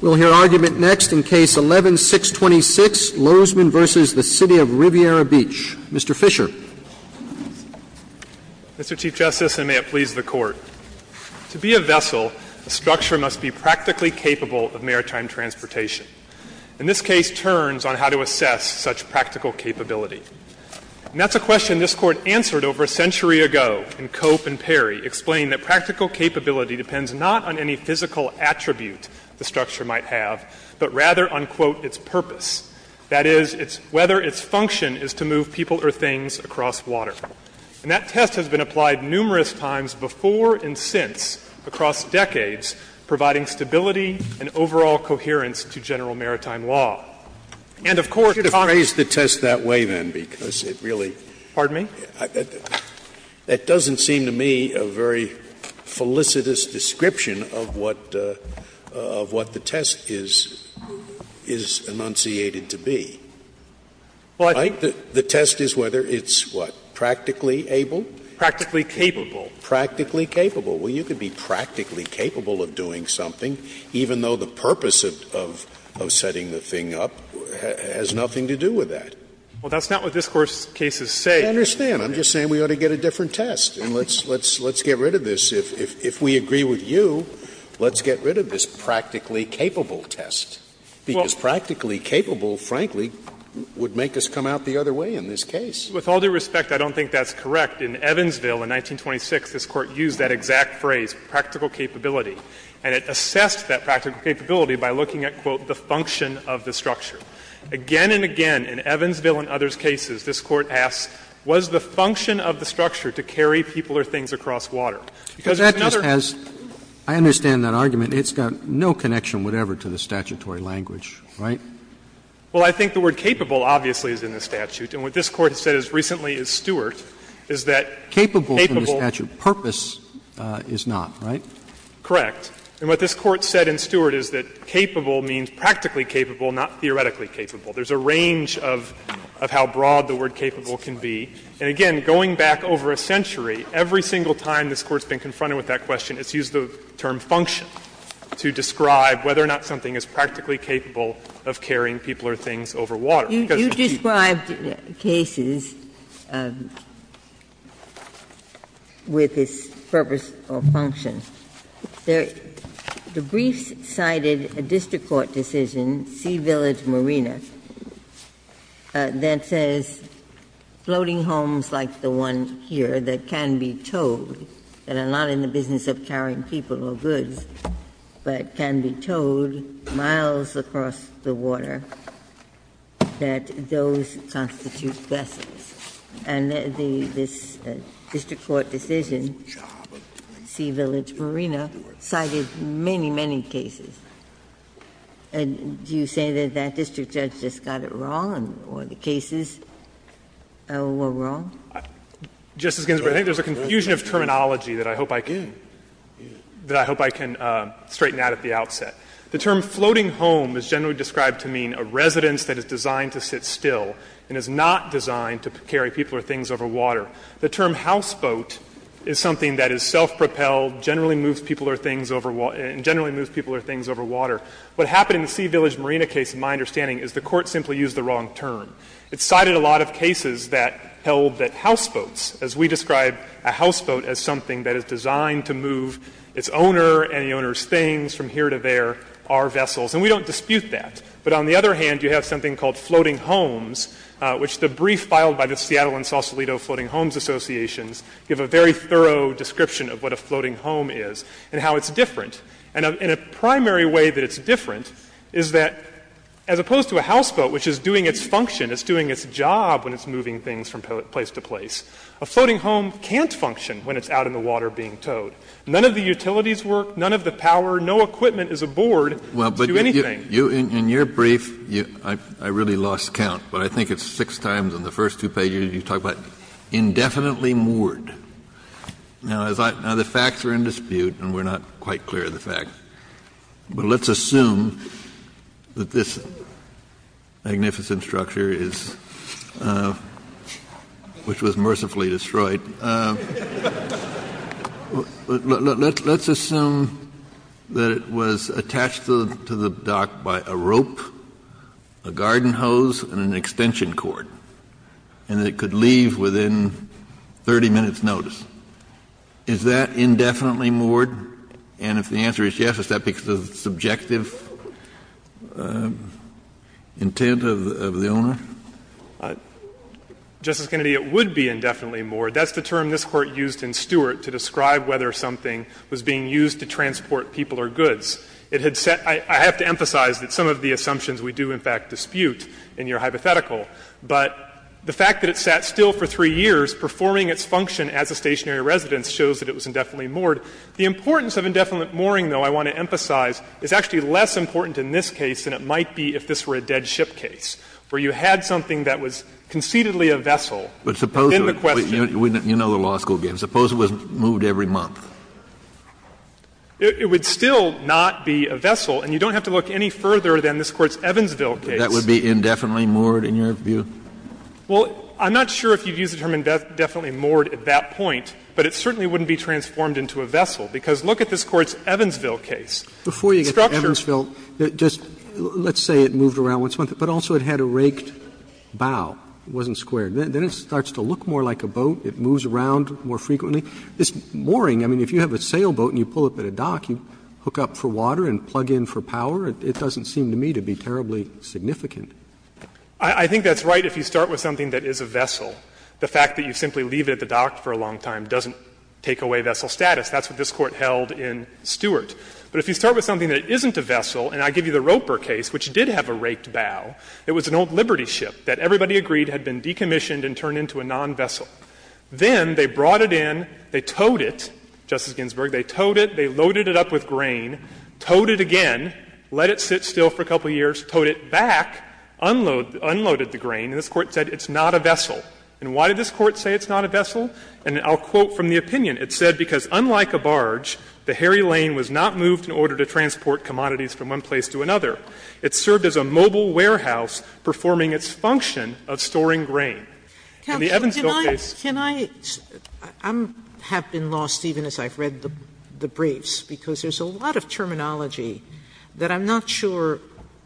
We'll hear argument next in Case 11-626, Lozman v. The City of Riviera Beach. Mr. Fisher. Mr. Chief Justice, and may it please the Court. To be a vessel, a structure must be practically capable of maritime transportation. And this case turns on how to assess such practical capability. And that's a question this Court answered over a century ago in Cope and Perry, explaining that practical capability depends not on any physical attribute the structure might have, but rather, unquote, its purpose. That is, whether its function is to move people or things across water. And that test has been applied numerous times before and since across decades, providing stability and overall coherence to general maritime law. And of course, if I'm going to phrase the test that way, then, because it really Pardon me? That doesn't seem to me a very felicitous description of what the test is enunciated to be. The test is whether it's what? Practically able? Practically capable. Practically capable. Well, you could be practically capable of doing something, even though the purpose of setting the thing up has nothing to do with that. Well, that's not what this Court's cases say. I understand. I'm just saying we ought to get a different test and let's get rid of this. If we agree with you, let's get rid of this practically capable test. Because practically capable, frankly, would make us come out the other way in this case. With all due respect, I don't think that's correct. In Evansville in 1926, this Court used that exact phrase, practical capability. And it assessed that practical capability by looking at, quote, the function of the structure. Again and again, in Evansville and others' cases, this Court asks, was the function of the structure to carry people or things across water? Because there's another question. Because that just has — I understand that argument. It's got no connection whatever to the statutory language, right? Well, I think the word capable obviously is in the statute. And what this Court has said as recently as Stewart is that capable— Capable from the statute. Purpose is not, right? Correct. And what this Court said in Stewart is that capable means practically capable, not theoretically capable. There's a range of how broad the word capable can be. And again, going back over a century, every single time this Court's been confronted with that question, it's used the term function to describe whether or not something is practically capable of carrying people or things over water. Because— GINSBURG And this is a case, C-Village Marina, that says floating homes like the one here that can be towed, that are not in the business of carrying people or goods, but can be towed miles across the water, that those constitute vessels. And this district court decision, C-Village Marina, cited many, many cases. And do you say that that district judge just got it wrong or the cases were wrong? Fisherman, I think there's a confusion of terminology that I hope I can straighten out at the outset. The term floating home is generally described to mean a residence that is designed to sit still and is not designed to carry people or things over water. The term houseboat is something that is self-propelled, generally moves people or things over water, and generally moves people or things over water. What happened in the C-Village Marina case, in my understanding, is the court simply used the wrong term. It cited a lot of cases that held that houseboats, as we describe a houseboat as something that is designed to move its owner and the owner's things from here to there, are vessels. And we don't dispute that. But on the other hand, you have something called floating homes, which the brief filed by the Seattle and Sausalito Floating Homes Associations give a very thorough description of what a floating home is and how it's different. And a primary way that it's different is that, as opposed to a houseboat, which is doing its function, it's doing its job when it's moving things from place to place, a floating home can't function when it's out in the water being towed. None of the utilities work, none of the power, no equipment is aboard to do anything. Kennedy, in your brief, I really lost count, but I think it's six times on the first two pages you talk about indefinitely moored. Now, as I — now, the facts are in dispute and we're not quite clear of the fact. But let's assume that this magnificent structure is — which was mercifully destroyed — Let's assume that it was attached to the dock by a rope, a garden hose, and an extension cord, and that it could leave within 30 minutes' notice. Is that indefinitely moored? And if the answer is yes, is that because of subjective intent of the owner? Justice Kennedy, it would be indefinitely moored. That's the term this Court used in Stewart to describe whether something was being used to transport people or goods. It had set — I have to emphasize that some of the assumptions we do, in fact, dispute in your hypothetical. But the fact that it sat still for three years, performing its function as a stationary residence, shows that it was indefinitely moored. The importance of indefinite mooring, though, I want to emphasize, is actually less important in this case than it might be if this were a dead ship case, where you had something that was concededly a vessel within the question. Kennedy, you know the law school game. Suppose it was moved every month. It would still not be a vessel, and you don't have to look any further than this Court's Evansville case. Kennedy, that would be indefinitely moored in your view? Well, I'm not sure if you'd use the term indefinitely moored at that point, but it certainly wouldn't be transformed into a vessel, because look at this Court's Evansville case. It's structure. Roberts, just let's say it moved around once a month, but also it had a raked bow. It wasn't squared. Then it starts to look more like a boat. It moves around more frequently. This mooring, I mean, if you have a sailboat and you pull up at a dock, you hook up for water and plug in for power. It doesn't seem to me to be terribly significant. I think that's right if you start with something that is a vessel. The fact that you simply leave it at the dock for a long time doesn't take away vessel status. That's what this Court held in Stewart. But if you start with something that isn't a vessel, and I give you the Roper case, which did have a raked bow, it was an old Liberty ship that everybody agreed had been decommissioned and turned into a non-vessel. Then they brought it in, they towed it, Justice Ginsburg, they towed it, they loaded it up with grain, towed it again, let it sit still for a couple of years, towed it back, unloaded the grain, and this Court said it's not a vessel. And why did this Court say it's not a vessel? And I'll quote from the opinion. It said, "...because unlike a barge, the Harry Lane was not moved in order to transport commodities from one place to another. It served as a mobile warehouse, performing its function of storing grain." And the Evansville case. Sotomayor, can I – I have been lost even as I've read the briefs, because there's a lot of terminology that I'm not sure,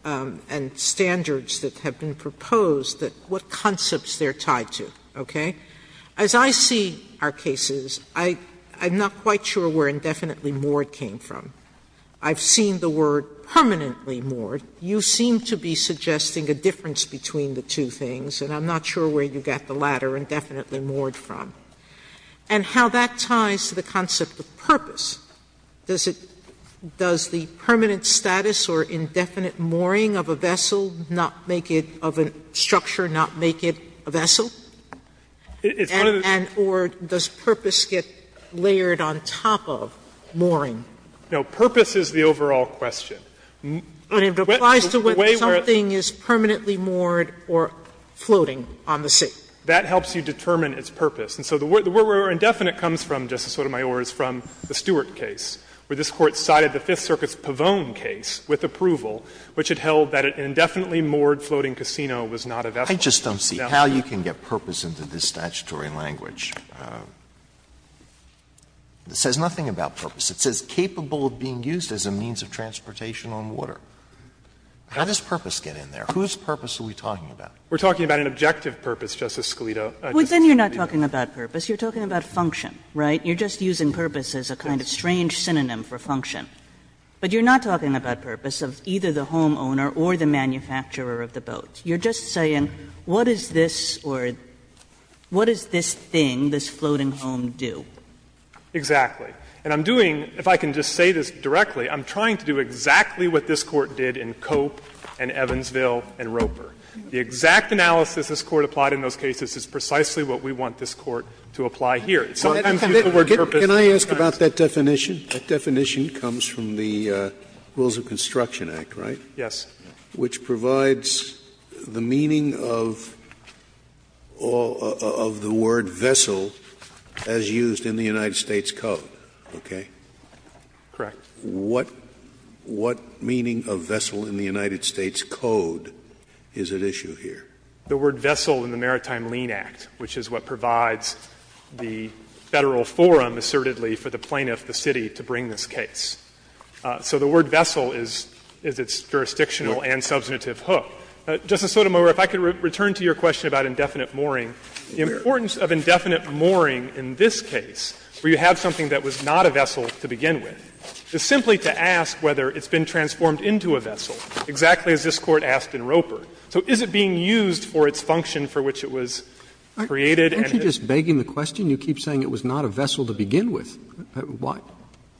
and standards that have been proposed, that what concepts they're tied to, okay? As I see our cases, I'm not quite sure where indefinitely moored came from. I've seen the word permanently moored. You seem to be suggesting a difference between the two things, and I'm not sure where you got the latter, indefinitely moored, from. And how that ties to the concept of purpose, does it – does the permanent status or indefinite mooring of a vessel not make it, of a structure not make it a vessel? Or does purpose get layered on top of mooring? Fisherman, No. Purpose is the overall question. Sotomayor, but it applies to whether something is permanently moored or floating on the sea. Fisherman, That helps you determine its purpose. And so the word where indefinite comes from, Justice Sotomayor, is from the Stewart case, where this Court cited the Fifth Circuit's Pavone case with approval, which it held that an indefinitely moored floating casino was not a vessel. Alito, I just don't see how you can get purpose into this statutory language. It says nothing about purpose. It says capable of being used as a means of transportation on water. How does purpose get in there? Whose purpose are we talking about? Fisherman, We're talking about an objective purpose, Justice Scalito. Kagan, Well, then you're not talking about purpose. You're talking about function, right? You're just using purpose as a kind of strange synonym for function. But you're not talking about purpose of either the homeowner or the manufacturer of the boat. You're just saying what is this or what does this thing, this floating home, do? Fisherman, Exactly. And I'm doing, if I can just say this directly, I'm trying to do exactly what this Court did in Cope and Evansville and Roper. The exact analysis this Court applied in those cases is precisely what we want this Court to apply here. Sometimes people interpret purpose as a kind of synonym. Scalia, Can I ask about that definition? That definition comes from the Rules of Construction Act, right? Fisherman, Yes. Scalia, Which provides the meaning of the word vessel as used in the United States Code, okay? Fisherman, Correct. Scalia, What meaning of vessel in the United States Code is at issue here? Fisherman, The word vessel in the Maritime Lien Act, which is what provides the Federal Forum assertedly for the plaintiff, the city, to bring this case. So the word vessel is its jurisdictional and substantive hook. Justice Sotomayor, if I could return to your question about indefinite mooring. The importance of indefinite mooring in this case, where you have something that was not a vessel to begin with. It's simply to ask whether it's been transformed into a vessel, exactly as this Court asked in Roper. So is it being used for its function for which it was created? Roberts, Aren't you just begging the question? You keep saying it was not a vessel to begin with.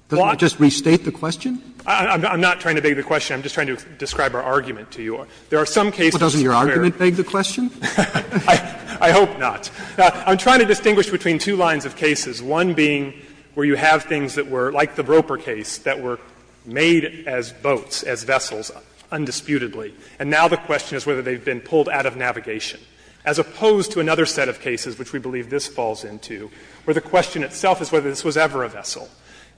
Doesn't it just restate the question? Fisherman, I'm not trying to beg the question. I'm just trying to describe our argument to you. There are some cases where it's fair. Roberts, Well, doesn't your argument beg the question? Fisherman, I hope not. I'm trying to distinguish between two lines of cases, one being where you have things that were, like the Roper case, that were made as boats, as vessels, undisputedly. And now the question is whether they've been pulled out of navigation, as opposed to another set of cases which we believe this falls into, where the question itself is whether this was ever a vessel.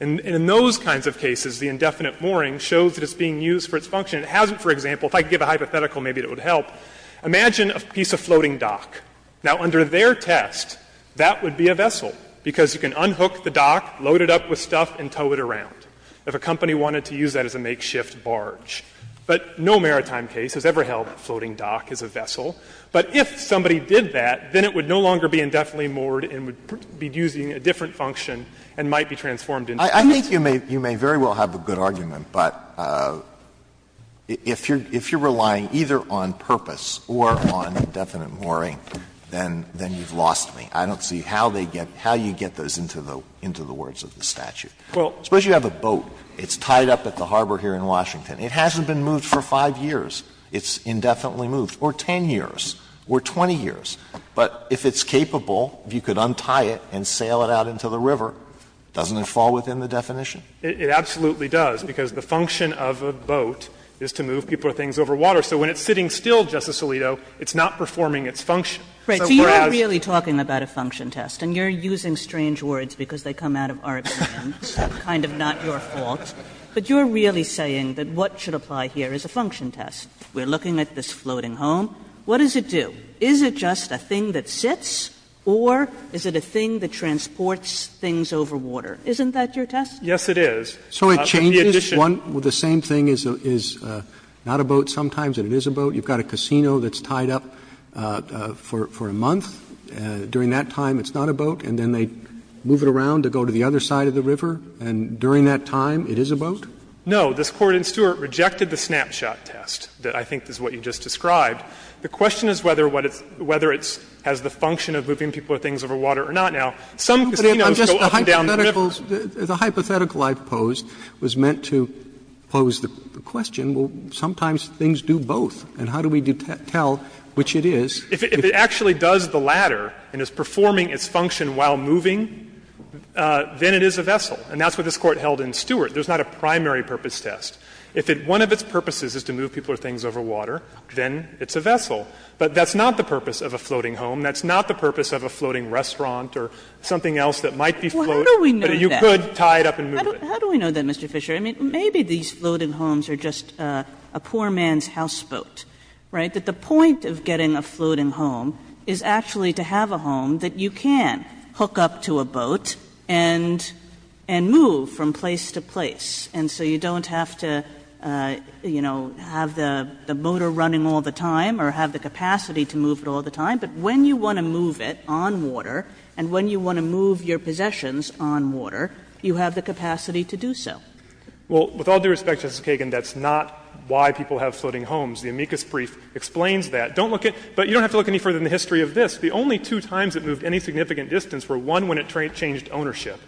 And in those kinds of cases, the indefinite mooring shows that it's being used for its function. It hasn't, for example, if I could give a hypothetical, maybe it would help. Imagine a piece of floating dock. Now, under their test, that would be a vessel, because you can unhook the dock, load it up with stuff and tow it around, if a company wanted to use that as a makeshift barge. But no maritime case has ever held a floating dock as a vessel. But if somebody did that, then it would no longer be indefinitely moored and would be using a different function and might be transformed into a vessel. Alito, I think you may very well have a good argument, but if you're relying either on purpose or on indefinite mooring, then you've lost me. I don't see how they get, how you get those into the words of the statute. Suppose you have a boat. It's tied up at the harbor here in Washington. It hasn't been moved for 5 years. It's indefinitely moved, or 10 years, or 20 years. But if it's capable, if you could untie it and sail it out into the river, doesn't it fall within the definition? It absolutely does, because the function of a boat is to move people or things over water. So when it's sitting still, Justice Alito, it's not performing its function. So whereas. Kagan So you're really talking about a function test, and you're using strange words because they come out of our opinions, kind of not your fault, but you're really saying that what should apply here is a function test. We're looking at this floating home. What does it do? Is it just a thing that sits or is it a thing that transports things over water? Isn't that your test? Alito, Yes, it is. Roberts, So it changes, the same thing as not a boat sometimes, and it is a boat. You've got a casino that's tied up for a month. During that time it's not a boat, and then they move it around to go to the other side of the river, and during that time it is a boat? No. This Court in Stewart rejected the snapshot test that I think is what you just described. The question is whether it has the function of moving people or things over water or not. Now, some casinos go up and down the river. Roberts, The hypothetical I've posed was meant to pose the question, well, sometimes things do both, and how do we tell which it is? If it actually does the latter and is performing its function while moving, then it is a vessel. And that's what this Court held in Stewart. There's not a primary purpose test. If it one of its purposes is to move people or things over water, then it's a vessel. But that's not the purpose of a floating home. That's not the purpose of a floating restaurant or something else that might be floating. But you could tie it up and move it. Kagan How do we know that, Mr. Fisher? I mean, maybe these floating homes are just a poor man's houseboat, right? But the point of getting a floating home is actually to have a home that you can hook up to a boat and move from place to place, and so you don't have to, you know, have the motor running all the time or have the capacity to move it all the time. But when you want to move it on water and when you want to move your possessions on water, you have the capacity to do so. Well, with all due respect, Justice Kagan, that's not why people have floating homes. The amicus brief explains that. Don't look at — but you don't have to look any further than the history of this. The only two times it moved any significant distance were, one, when it changed ownership,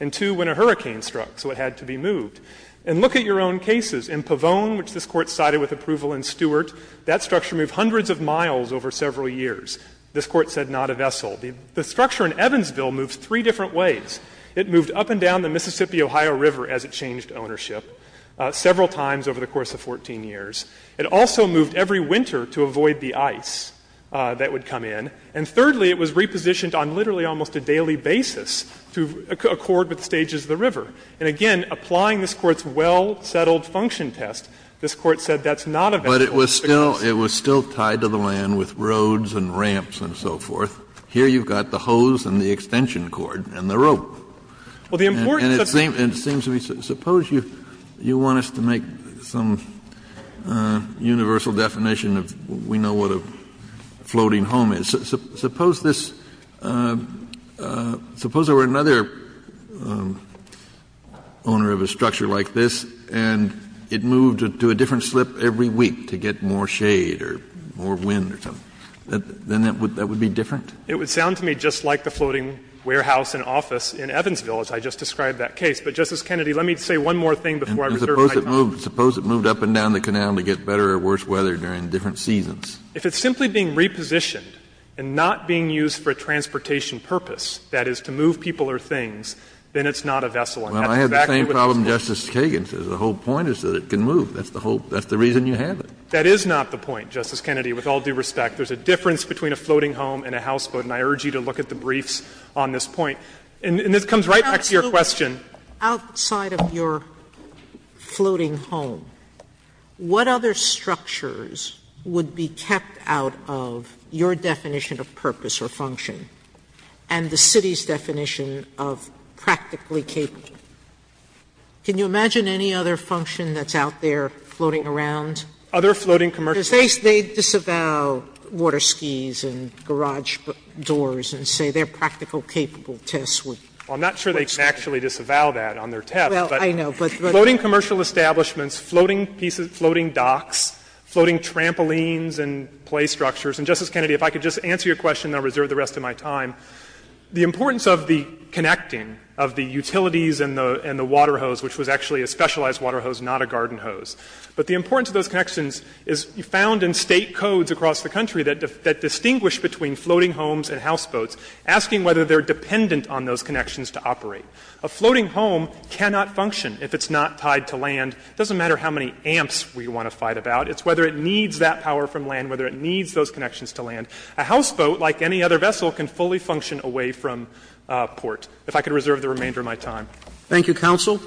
and, two, when a hurricane struck, so it had to be moved. And look at your own cases. In Pavone, which this Court sided with approval in Stewart, that structure moved hundreds of miles over several years. This Court said not a vessel. The structure in Evansville moved three different ways. It moved up and down the Mississippi-Ohio River as it changed ownership several times over the course of 14 years. It also moved every winter to avoid the ice that would come in. And, thirdly, it was repositioned on literally almost a daily basis to accord with the stages of the river. And, again, applying this Court's well-settled function test, this Court said that's not a vessel. But it was still — it was still tied to the land with roads and ramps and so forth. Here you've got the hose and the extension cord and the rope. And it seems to me — suppose you want us to make some universal definition of we know what a floating home is. Suppose this — suppose there were another owner of a structure like this and it moved to a different slip every week to get more shade or more wind or something. Then that would be different? It would sound to me just like the floating warehouse and office in Evansville, as I just described that case. But, Justice Kennedy, let me say one more thing before I reserve my time. And suppose it moved up and down the canal to get better or worse weather during different seasons? If it's simply being repositioned and not being used for a transportation purpose, that is, to move people or things, then it's not a vessel. And that's exactly what this Court said. Well, I had the same problem Justice Kagan says. The whole point is that it can move. That's the whole — that's the reason you have it. That is not the point, Justice Kennedy. With all due respect, there's a difference between a floating home and a houseboat. And I urge you to look at the briefs on this point. And this comes right back to your question. Outside of your floating home, what other structures would be kept out of your definition of purpose or function and the city's definition of practically capable? Can you imagine any other function that's out there floating around? Other floating commercial— Sotomayor, because they disavow water skis and garage doors and say their practical capable tests would— Well, I'm not sure they can actually disavow that on their test, but— Well, I know, but— Floating commercial establishments, floating docks, floating trampolines and play structures. And, Justice Kennedy, if I could just answer your question, and I'll reserve the rest of my time, the importance of the connecting of the utilities and the water hose, which was actually a specialized water hose, not a garden hose, but the importance of those connections is found in State codes across the country that distinguish between floating homes and houseboats, asking whether they're dependent on those connections to operate. A floating home cannot function if it's not tied to land. It doesn't matter how many amps we want to fight about. It's whether it needs that power from land, whether it needs those connections to land. A houseboat, like any other vessel, can fully function away from port. If I could reserve the remainder of my time. Thank you, counsel.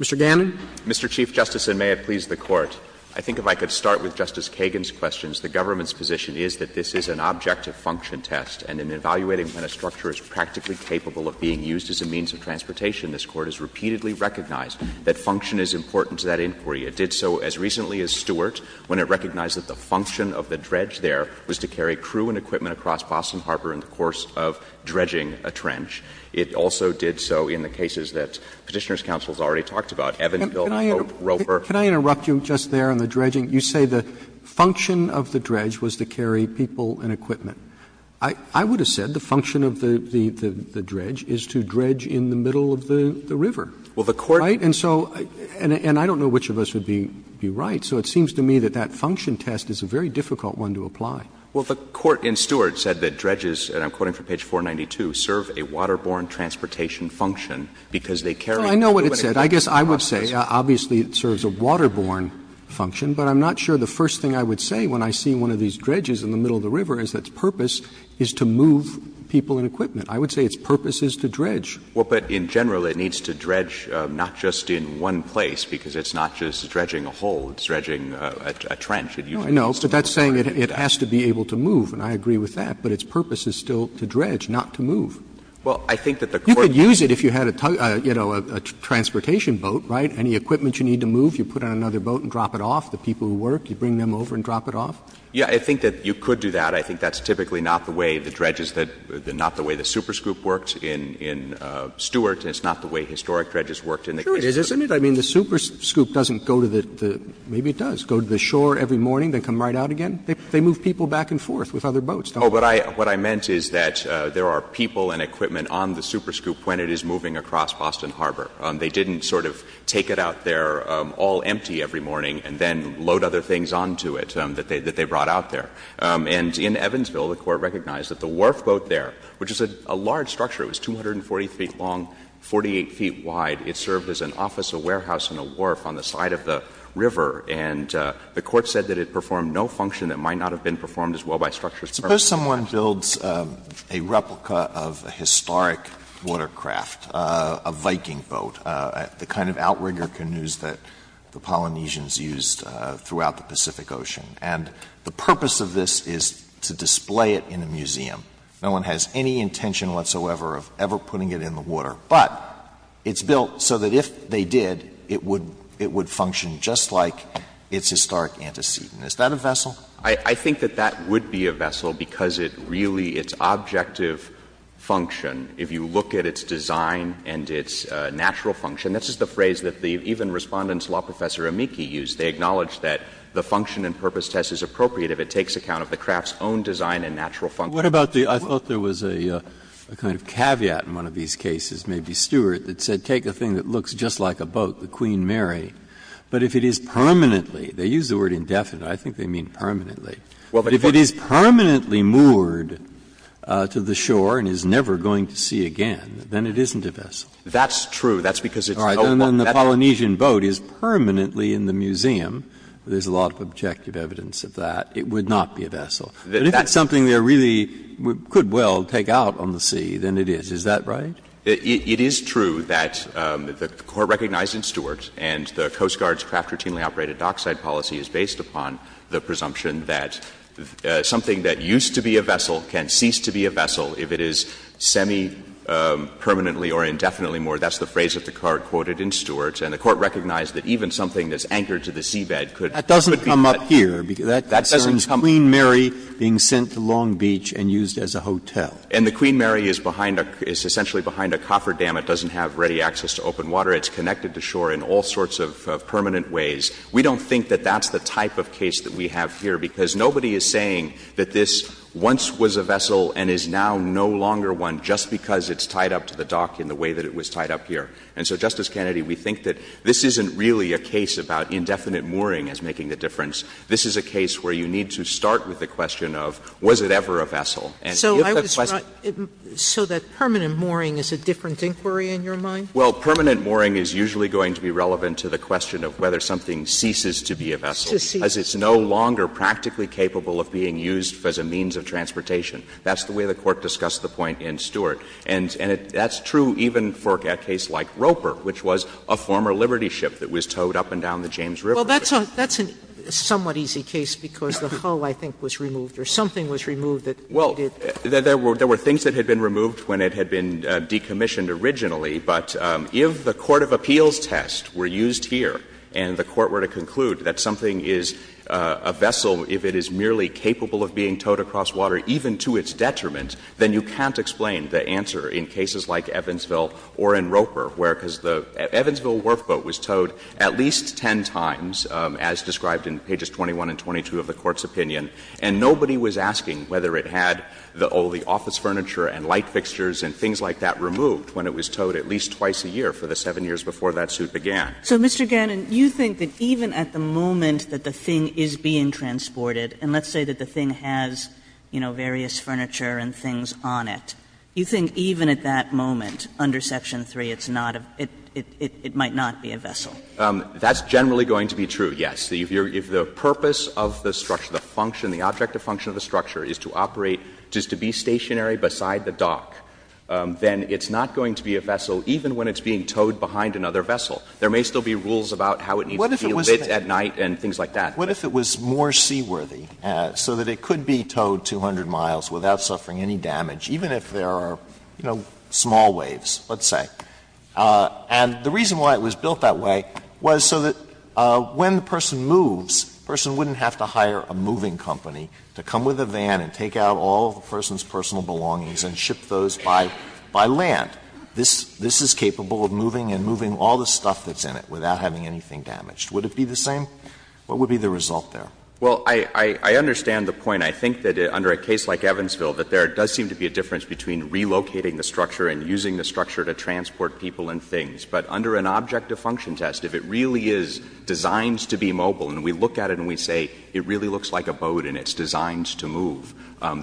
Mr. Gannon. Mr. Chief Justice, and may it please the Court. I think if I could start with Justice Kagan's questions. The government's position is that this is an objective function test, and in evaluating when a structure is practically capable of being used as a means of transportation, this Court has repeatedly recognized that function is important to that inquiry. It did so as recently as Stewart, when it recognized that the function of the dredge there was to carry crew and equipment across Boston Harbor in the course of dredging a trench. It also did so in the cases that Petitioner's counsel has already talked about, Evansville, Hope, Roper. Can I interrupt you just there on the dredging? You say the function of the dredge was to carry people and equipment. I would have said the function of the dredge is to dredge in the middle of the river. Right? And so, and I don't know which of us would be right, so it seems to me that that function test is a very difficult one to apply. Well, the Court in Stewart said that dredges, and I'm quoting from page 492, serve a waterborne transportation function because they carry crew and equipment. Well, I know what it said. I guess I would say obviously it serves a waterborne function, but I'm not sure the first thing I would say when I see one of these dredges in the middle of the river is that its purpose is to move people and equipment. I would say its purpose is to dredge. Well, but in general, it needs to dredge not just in one place, because it's not just dredging a hole. It's dredging a trench. It usually has to be able to do that. No, I know, but that's saying it has to be able to move, and I agree with that. But its purpose is still to dredge, not to move. Well, I think that the Court You could use it if you had a, you know, a transportation boat, right? Any equipment you need to move, you put it on another boat and drop it off. The people who work, you bring them over and drop it off. Yeah, I think that you could do that. But I think that's typically not the way the dredges that — not the way the superscoop worked in Stewart, and it's not the way historic dredges worked in the case of Stewart. Sure, it is, isn't it? I mean, the superscoop doesn't go to the — maybe it does — go to the shore every morning, then come right out again. They move people back and forth with other boats, don't they? Oh, but I — what I meant is that there are people and equipment on the superscoop when it is moving across Boston Harbor. They didn't sort of take it out there all empty every morning and then load other things onto it that they brought out there. And in Evansville, the Court recognized that the wharf boat there, which is a large structure, it was 240 feet long, 48 feet wide. It served as an office, a warehouse, and a wharf on the side of the river. And the Court said that it performed no function that might not have been performed as well by structures. Suppose someone builds a replica of a historic watercraft, a Viking boat, the kind of outrigger canoes that the Polynesians used throughout the Pacific Ocean. And the purpose of this is to display it in a museum. No one has any intention whatsoever of ever putting it in the water. But it's built so that if they did, it would — it would function just like its historic antecedent. Is that a vessel? I think that that would be a vessel because it really — its objective function, if you look at its design and its natural function — this is the phrase that the — even Respondent's law professor Amici used. They acknowledged that the function and purpose test is appropriate if it takes account of the craft's own design and natural function. Breyer. What about the — I thought there was a kind of caveat in one of these cases, maybe Stewart, that said take a thing that looks just like a boat, the Queen Mary, but if it is permanently — they use the word indefinite. I think they mean permanently. Well, but if it is permanently moored to the shore and is never going to see again, then it isn't a vessel. That's true. That's because it's no longer — And then the Polynesian boat is permanently in the museum. There's a lot of objective evidence of that. It would not be a vessel. But if it's something that really could well take out on the sea, then it is. Is that right? It is true that the Court recognized in Stewart, and the Coast Guard's craft-routinely operated dockside policy is based upon the presumption that something that used to be a vessel can cease to be a vessel if it is semi-permanently or indefinitely moored, that's the phrase that the Court quoted in Stewart, and the Court recognized that even something that's anchored to the seabed could be — That doesn't come up here. That concerns Queen Mary being sent to Long Beach and used as a hotel. And the Queen Mary is behind a — is essentially behind a cofferdam. It doesn't have ready access to open water. It's connected to shore in all sorts of permanent ways. We don't think that that's the type of case that we have here, because nobody is saying that this once was a vessel and is now no longer one just because it's tied up to the dock in the way that it was tied up here. And so, Justice Kennedy, we think that this isn't really a case about indefinite mooring as making the difference. This is a case where you need to start with the question of was it ever a vessel. And if the question — So I was — so that permanent mooring is a different inquiry in your mind? Well, permanent mooring is usually going to be relevant to the question of whether something ceases to be a vessel, as it's no longer practically capable of being used as a means of transportation. That's the way the Court discussed the point in Stewart. And that's true even for a case like Roper, which was a former Liberty ship that was towed up and down the James River. Well, that's a somewhat easy case because the hull, I think, was removed or something was removed that needed — Well, there were things that had been removed when it had been decommissioned originally, but if the court of appeals test were used here and the Court were to conclude that something is a vessel, if it is merely capable of being towed across water, even to its detriment, then you can't explain the answer in cases like Evansville or in Roper, where — because the Evansville wharf boat was towed at least 10 times, as described in pages 21 and 22 of the Court's opinion, and nobody was asking whether it had all the office furniture and light fixtures and things like that removed when it was towed at least twice a year for the 7 years before that suit began. So, Mr. Gannon, you think that even at the moment that the thing is being transported and let's say that the thing has, you know, various furniture and things on it, you think even at that moment, under section 3, it's not a — it might not be a vessel? That's generally going to be true, yes. If the purpose of the structure, the function, the object of function of the structure is to operate, is to be stationary beside the dock, then it's not going to be a vessel even when it's being towed behind another vessel. There may still be rules about how it needs to be lit at night and things like that. What if it was more seaworthy, so that it could be towed 200 miles without suffering any damage, even if there are, you know, small waves, let's say? And the reason why it was built that way was so that when the person moves, the person wouldn't have to hire a moving company to come with a van and take out all of the person's personal belongings and ship those by land. This is capable of moving and moving all the stuff that's in it without having anything damaged. Would it be the same? What would be the result there? Well, I understand the point. I think that under a case like Evansville, that there does seem to be a difference between relocating the structure and using the structure to transport people and things. But under an object of function test, if it really is designed to be mobile, and we look at it and we say it really looks like a boat and it's designed to move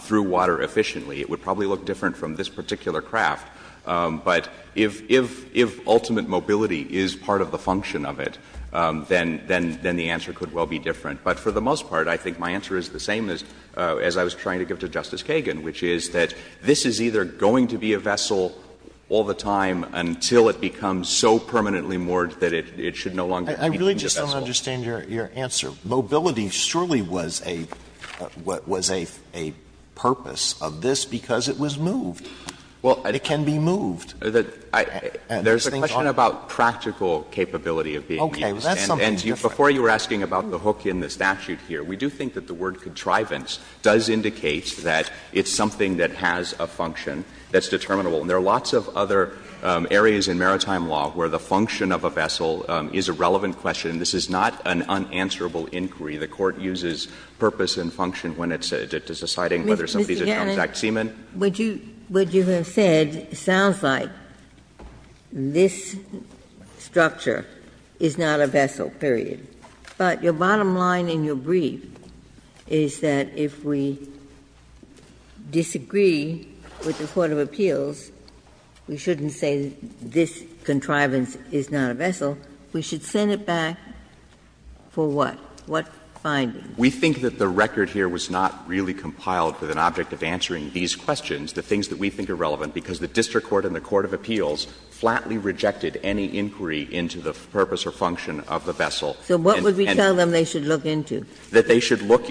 through water efficiently, it would probably look different from this particular craft. But if ultimate mobility is part of the function of it, then the answer could well be different. But for the most part, I think my answer is the same as I was trying to give to Justice Kagan, which is that this is either going to be a vessel all the time until it becomes so permanently moored that it should no longer be deemed a vessel. I really just don't understand your answer. Mobility surely was a purpose of this because it was moved. Well, it can be moved. There's a question about practical capability of being used. And before you were asking about the hook in the statute here, we do think that the word contrivance does indicate that it's something that has a function that's determinable. And there are lots of other areas in maritime law where the function of a vessel is a relevant question. This is not an unanswerable inquiry. The Court uses purpose and function when it's deciding whether something is a transact seaman. Ginsburg. What you have said sounds like this structure is not a vessel, period. But your bottom line in your brief is that if we disagree with the court of appeals, we shouldn't say this contrivance is not a vessel. We should send it back for what? What findings? We think that the record here was not really compiled with an object of answering these questions, the things that we think are relevant, because the district court and the court of appeals flatly rejected any inquiry into the purpose or function of the vessel. And they should look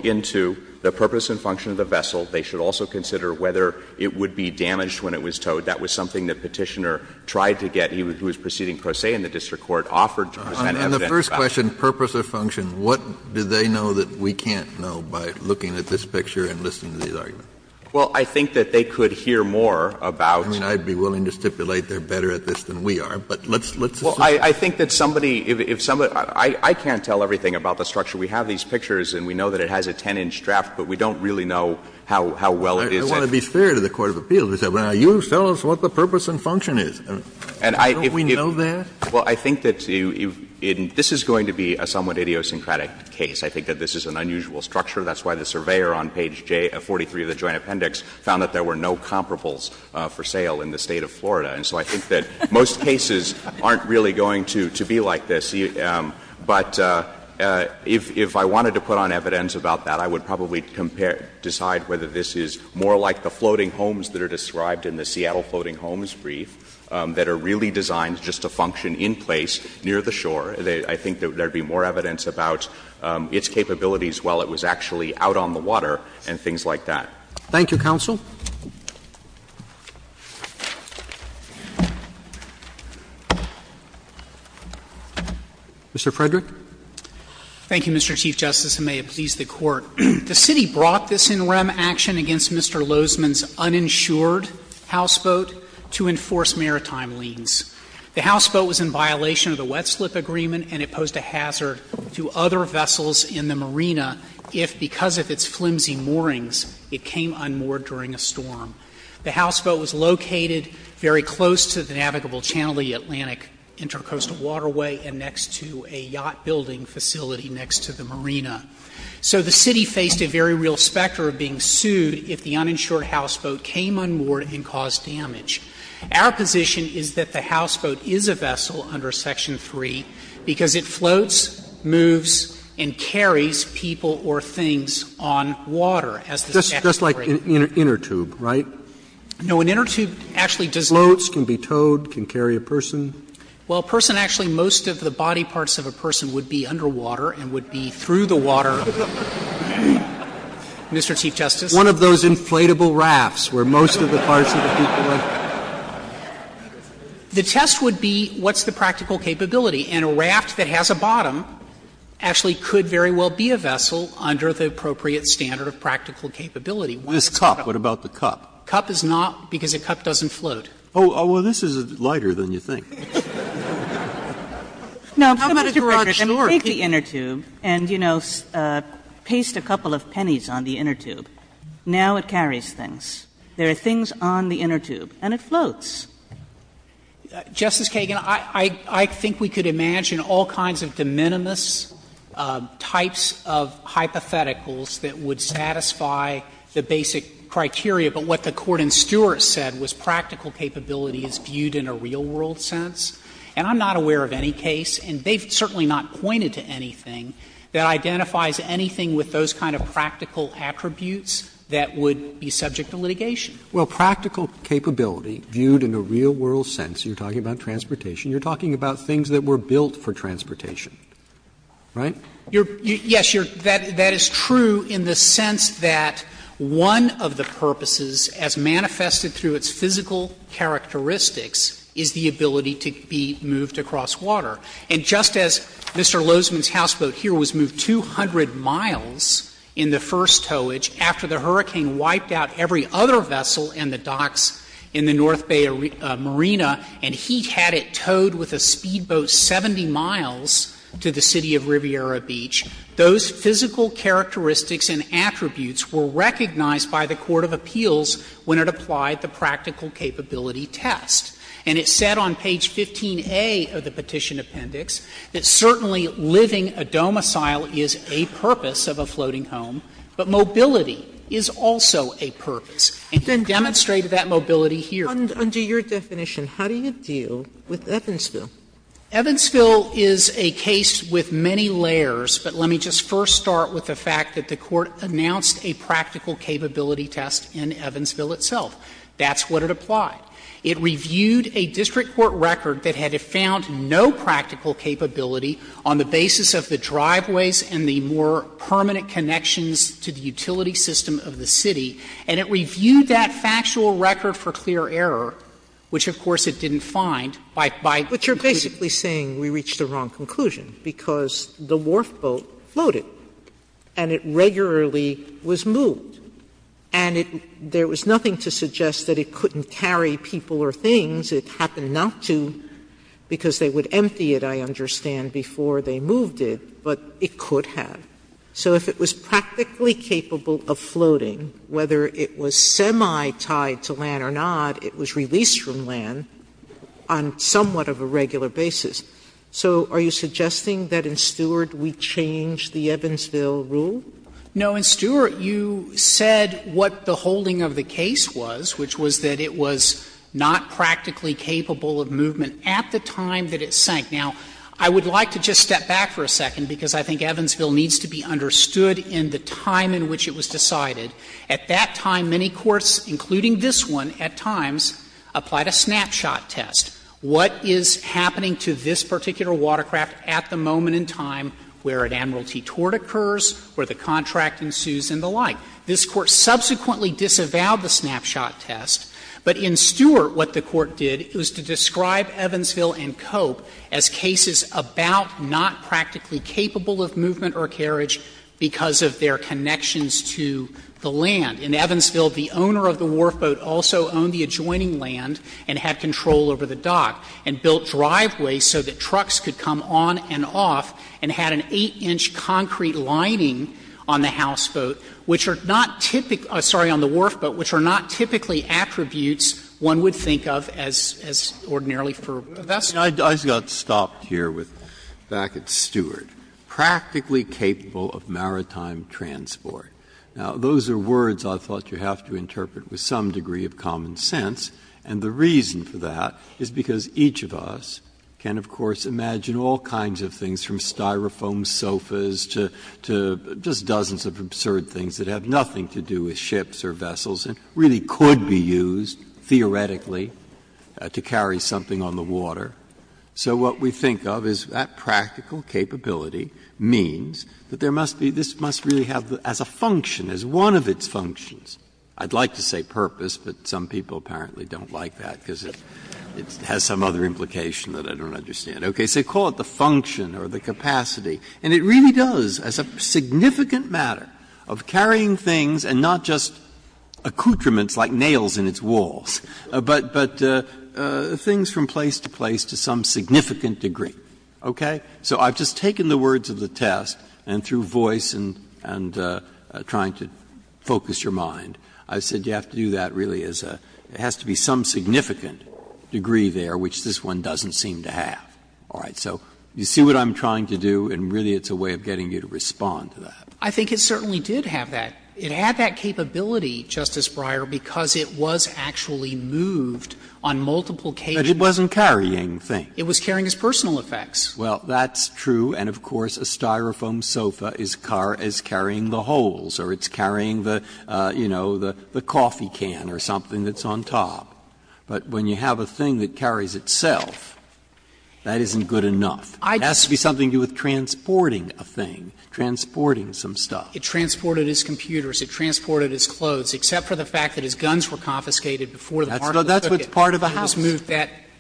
into the purpose and function of the vessel. They should also consider whether it would be damaged when it was towed. That was something that Petitioner tried to get. He was proceeding pro se in the district court, offered to present evidence. Kennedy, in the first question, purpose or function, what do they know that we can't know by looking at this picture and listening to these arguments? Well, I think that they could hear more about. I mean, I'd be willing to stipulate they're better at this than we are, but let's assume. Well, I think that somebody, if somebody — I can't tell everything about the structure. We have these pictures and we know that it has a 10-inch draft, but we don't really know how well it is. I want to be fair to the court of appeals. They say, well, you tell us what the purpose and function is. Don't we know that? Well, I think that this is going to be a somewhat idiosyncratic case. I think that this is an unusual structure. That's why the surveyor on page 43 of the Joint Appendix found that there were no comparables for sale in the State of Florida. And so I think that most cases aren't really going to be like this. But if I wanted to put on evidence about that, I would probably compare — decide whether this is more like the floating homes that are described in the Seattle Floating Homes Brief that are really designed just to function in place near the shore. I think there would be more evidence about its capabilities while it was actually out on the water and things like that. Thank you, counsel. Mr. Frederick. Thank you, Mr. Chief Justice, and may it please the Court. The City brought this in rem action against Mr. Lozman's uninsured houseboat to enforce maritime liens. The houseboat was in violation of the wet-slip agreement, and it posed a hazard to other vessels in the marina if, because of its flimsy moorings, it came unmoored during a storm. The houseboat was located very close to the navigable channel, the Atlantic Intercoastal Waterway, and next to a yacht-building facility next to the marina. So the City faced a very real specter of being sued if the uninsured houseboat came unmoored and caused damage. Our position is that the houseboat is a vessel under Section 3 because it floats, moves, and carries people or things on water as the statute states. Just like an inner tube, right? No, an inner tube actually does not. Floats, can be towed, can carry a person? Well, a person actually, most of the body parts of a person would be underwater and would be through the water. Mr. Chief Justice. One of those inflatable rafts where most of the parts of the people are. The test would be what's the practical capability, and a raft that has a bottom actually could very well be a vessel under the appropriate standard of practical capability. This cup, what about the cup? Cup is not, because a cup doesn't float. Oh, well, this is lighter than you think. Now, Mr. Fickers, if you take the inner tube and, you know, paste a couple of pennies on the inner tube, now it carries things. There are things on the inner tube, and it floats. Justice Kagan, I think we could imagine all kinds of de minimis types of hypotheticals that would satisfy the basic criteria, but what the Court in Stewart said was practical capability is viewed in a real-world sense, and I'm not aware of any case, and they've certainly not pointed to anything that identifies anything with those kind of practical attributes that would be subject to litigation. Well, practical capability viewed in a real-world sense, you're talking about transportation, you're talking about things that were built for transportation, right? Yes, that is true in the sense that one of the purposes as manifested through its physical characteristics is the ability to be moved across water. And just as Mr. Lozman's houseboat here was moved 200 miles in the first towage after the hurricane wiped out every other vessel and the docks in the North Bay Marina, and he had it towed with a speedboat 70 miles to the city of Riviera Beach, those physical characteristics and attributes were recognized by the court of appeals when it applied the practical capability test. And it said on page 15a of the Petition Appendix that certainly living a domicile is a purpose of a floating home, but mobility is also a purpose. And he demonstrated that mobility here. Sotomayor, under your definition, how do you deal with Evansville? Evansville is a case with many layers, but let me just first start with the fact that the court announced a practical capability test in Evansville itself. That's what it applied. It reviewed a district court record that had found no practical capability on the basis of the driveways and the more permanent connections to the utility system of the city, and it reviewed that factual record for clear error, which of course it didn't find by conclusion. Sotomayor, but you're basically saying we reached a wrong conclusion because the wharf boat floated and it regularly was moved, and there was nothing to suggest that it couldn't carry people or things. It happened not to, because they would empty it, I understand, before they moved it, but it could have. So if it was practically capable of floating, whether it was semi-tied to land or not, it was released from land on somewhat of a regular basis. So are you suggesting that in Stewart we change the Evansville rule? No. In Stewart, you said what the holding of the case was, which was that it was not practically capable of movement at the time that it sank. Now, I would like to just step back for a second, because I think Evansville needs to be understood in the time in which it was decided. At that time, many courts, including this one at times, applied a snapshot test. What is happening to this particular watercraft at the moment in time where an admiral tetort occurs, where the contract ensues and the like? This Court subsequently disavowed the snapshot test, but in Stewart what the Court did, it was to describe Evansville and Cope as cases about not practically capable of movement or carriage because of their connections to the land. In Evansville, the owner of the wharfboat also owned the adjoining land and had control over the dock and built driveways so that trucks could come on and off and had an 8-inch concrete lining on the houseboat, which are not typical — sorry, on the wharfboat which are not typically attributes one would think of as ordinarily for a vessel. Breyer, I just got stopped here with, back at Stewart, practically capable of maritime transport. Now, those are words I thought you have to interpret with some degree of common sense, and the reason for that is because each of us can, of course, imagine all kinds of things, from Styrofoam sofas to just dozens of absurd things that have nothing to do with ships or vessels and really could be used, theoretically, to carry something on the water. So what we think of is that practical capability means that there must be — this must really have as a function, as one of its functions. I'd like to say purpose, but some people apparently don't like that because it has some other implication that I don't understand. Okay. So call it the function or the capacity. And it really does, as a significant matter, of carrying things, and not just accoutrements like nails in its walls, but things from place to place to some significant degree. Okay? So I've just taken the words of the test, and through voice and trying to focus your mind, I said you have to do that really as a — it has to be some significant degree there which this one doesn't seem to have. All right. So you see what I'm trying to do, and really it's a way of getting you to respond to that. I think it certainly did have that. It had that capability, Justice Breyer, because it was actually moved on multiple cases. But it wasn't carrying things. It was carrying its personal effects. Well, that's true. And of course, a Styrofoam sofa is carrying the holes or it's carrying the, you know, the coffee can or something that's on top. But when you have a thing that carries itself, that isn't good enough. It has to be something to do with transporting a thing, transporting some stuff. It transported his computers. It transported his clothes, except for the fact that his guns were confiscated before the part of the ticket. That's what's part of the house.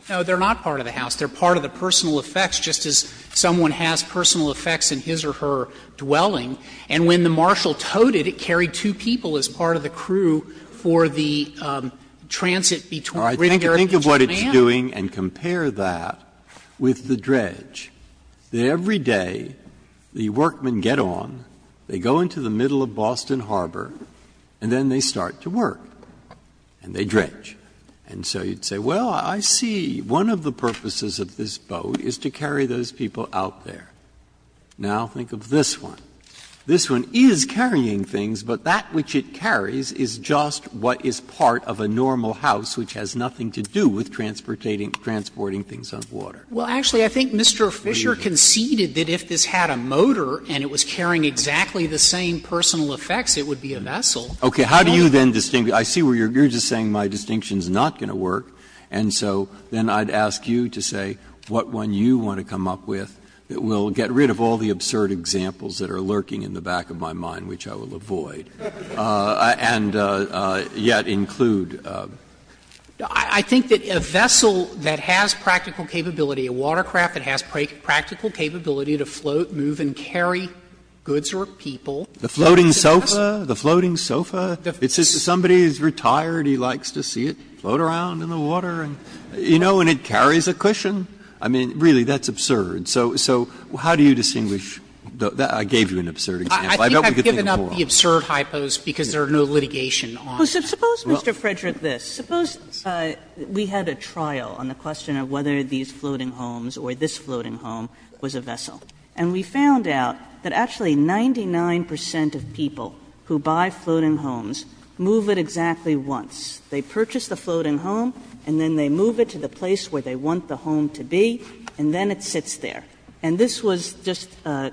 No, they're not part of the house. They're part of the personal effects, just as someone has personal effects in his or her dwelling. And when the marshal towed it, it carried two people as part of the crew for the transit between Britain and Germany. Breyer, think of what it's doing and compare that with the dredge. Every day, the workmen get on, they go into the middle of Boston Harbor, and then they start to work, and they dredge. And so you'd say, well, I see, one of the purposes of this boat is to carry those people out there. Now think of this one. This one is carrying things, but that which it carries is just what is part of a normal house, which has nothing to do with transporting things on water. Well, actually, I think Mr. Fisher conceded that if this had a motor and it was carrying exactly the same personal effects, it would be a vessel. Okay. How do you then distinguish? I see where you're just saying my distinction is not going to work, and so then I'd ask you to say what one you want to come up with that will get rid of all the absurd examples that are lurking in the back of my mind, which I will avoid, and yet include in this case. I think that a vessel that has practical capability, a watercraft that has practical capability to float, move, and carry goods or people. The floating sofa, the floating sofa, it's just somebody is retired, he likes to see it float around in the water, and, you know, and it carries a cushion. I mean, really, that's absurd. So how do you distinguish? I gave you an absurd example. I think I've given up the absurd hypos because there are no litigation on it. Kagan. Suppose, Mr. Frederick, this. Suppose we had a trial on the question of whether these floating homes or this floating home was a vessel, and we found out that actually 99 percent of people who buy floating homes move it exactly once. They purchase the floating home and then they move it to the place where they want the home to be, and then it sits there. And this was just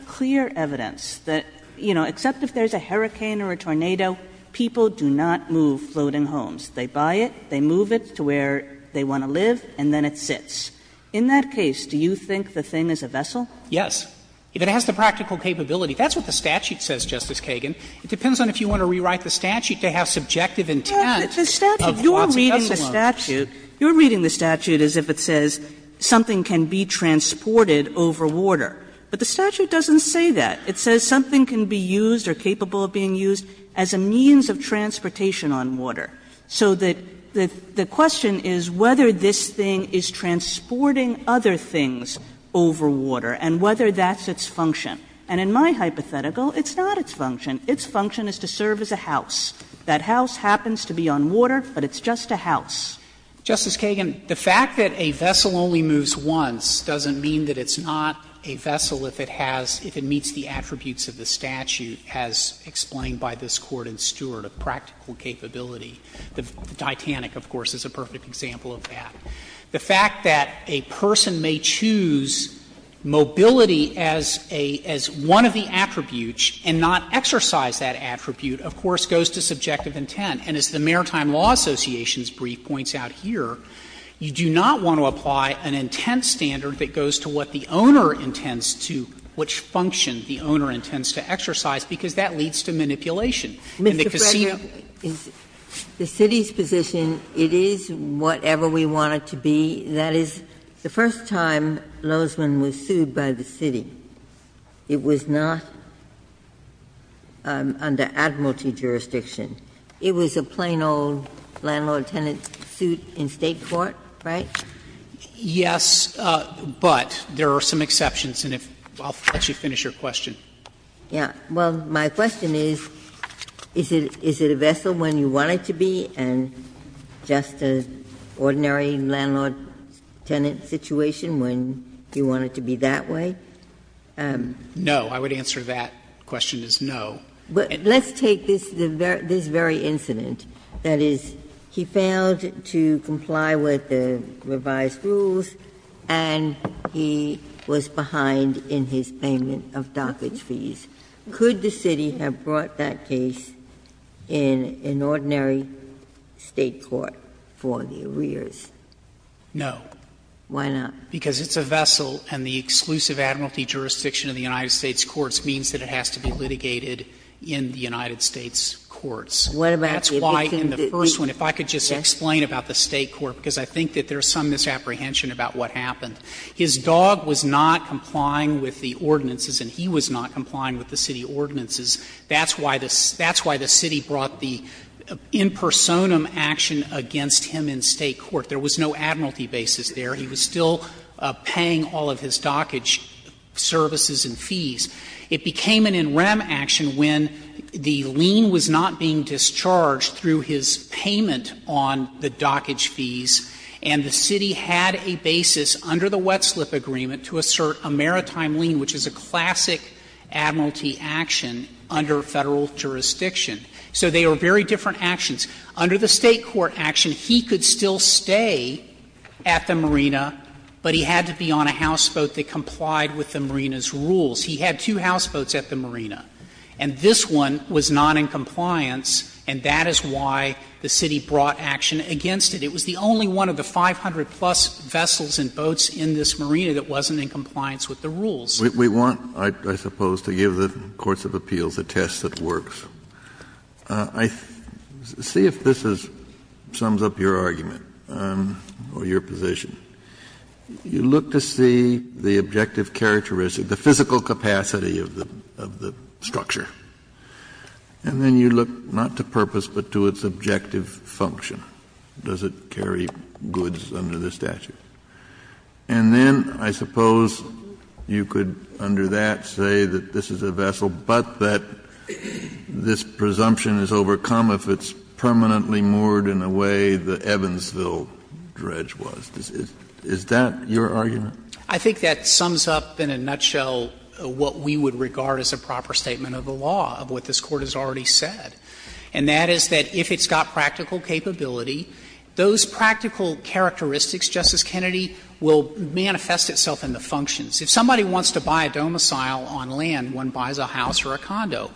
clear evidence that, you know, except if there's a hurricane or a tornado, people do not move floating homes. They buy it, they move it to where they want to live, and then it sits. In that case, do you think the thing is a vessel? Yes. If it has the practical capability. That's what the statute says, Justice Kagan. It depends on if you want to rewrite the statute to have subjective intent of what's a vessel home. You're reading the statute as if it says something can be transported over water. But the statute doesn't say that. It says something can be used or capable of being used as a means of transportation on water. So the question is whether this thing is transporting other things over water and whether that's its function. And in my hypothetical, it's not its function. Its function is to serve as a house. That house happens to be on water, but it's just a house. Justice Kagan, the fact that a vessel only moves once doesn't mean that it's not a vessel if it has — if it meets the attributes of the statute as explained by this Court in Stewart of practical capability. The Titanic, of course, is a perfect example of that. The fact that a person may choose mobility as a — as one of the attributes and not exercise that attribute, of course, goes to subjective intent. And as the Maritime Law Association's brief points out here, you do not want to apply an intent standard that goes to what the owner intends to — which function the owner intends to exercise, because that leads to manipulation. And the casino — Ginsburg The City's position, it is whatever we want it to be. That is, the first time Lozman was sued by the City, it was not under Admiralty jurisdiction. It was a plain old landlord-tenant suit in State court, right? Yes, but there are some exceptions, and if — I'll let you finish your question. Ginsburg Yeah. Well, my question is, is it a vessel when you want it to be, and just an ordinary landlord-tenant situation when you want it to be that way? No. I would answer that question as no. Ginsburg But let's take this very incident. That is, he failed to comply with the revised rules, and he was behind in his payment of dockage fees. Could the City have brought that case in an ordinary State court for the arrears? No. Ginsburg Why not? Because it's a vessel, and the exclusive Admiralty jurisdiction in the United States courts means that it has to be litigated in the United States courts. That's why in the first one, if I could just explain about the State court, because I think that there's some misapprehension about what happened. His dog was not complying with the ordinances, and he was not complying with the City ordinances. That's why the City brought the in personam action against him in State court. There was no Admiralty basis there. He was still paying all of his dockage services and fees. It became an in rem action when the lien was not being discharged through his payment on the dockage fees, and the City had a basis under the wet slip agreement to assert a maritime lien, which is a classic Admiralty action under Federal jurisdiction. So they are very different actions. Under the State court action, he could still stay at the marina, but he had to be on a houseboat that complied with the marina's rules. He had two houseboats at the marina, and this one was not in compliance, and that is why the City brought action against it. It was the only one of the 500-plus vessels and boats in this marina that wasn't in compliance with the rules. Kennedy, I suppose, to give the courts of appeals a test that works. See if this sums up your argument or your position. You look to see the objective characteristic, the physical capacity of the structure, and then you look not to purpose but to its objective function. Does it carry goods under the statute? And then I suppose you could, under that, say that this is a vessel but that this presumption is overcome if it's permanently moored in a way the Evansville dredge was. Is that your argument? I think that sums up in a nutshell what we would regard as a proper statement of the law, of what this Court has already said. And that is that if it's got practical capability, those practical characteristics, Justice Kennedy, will manifest itself in the functions. If somebody wants to buy a domicile on land, one buys a house or a condo.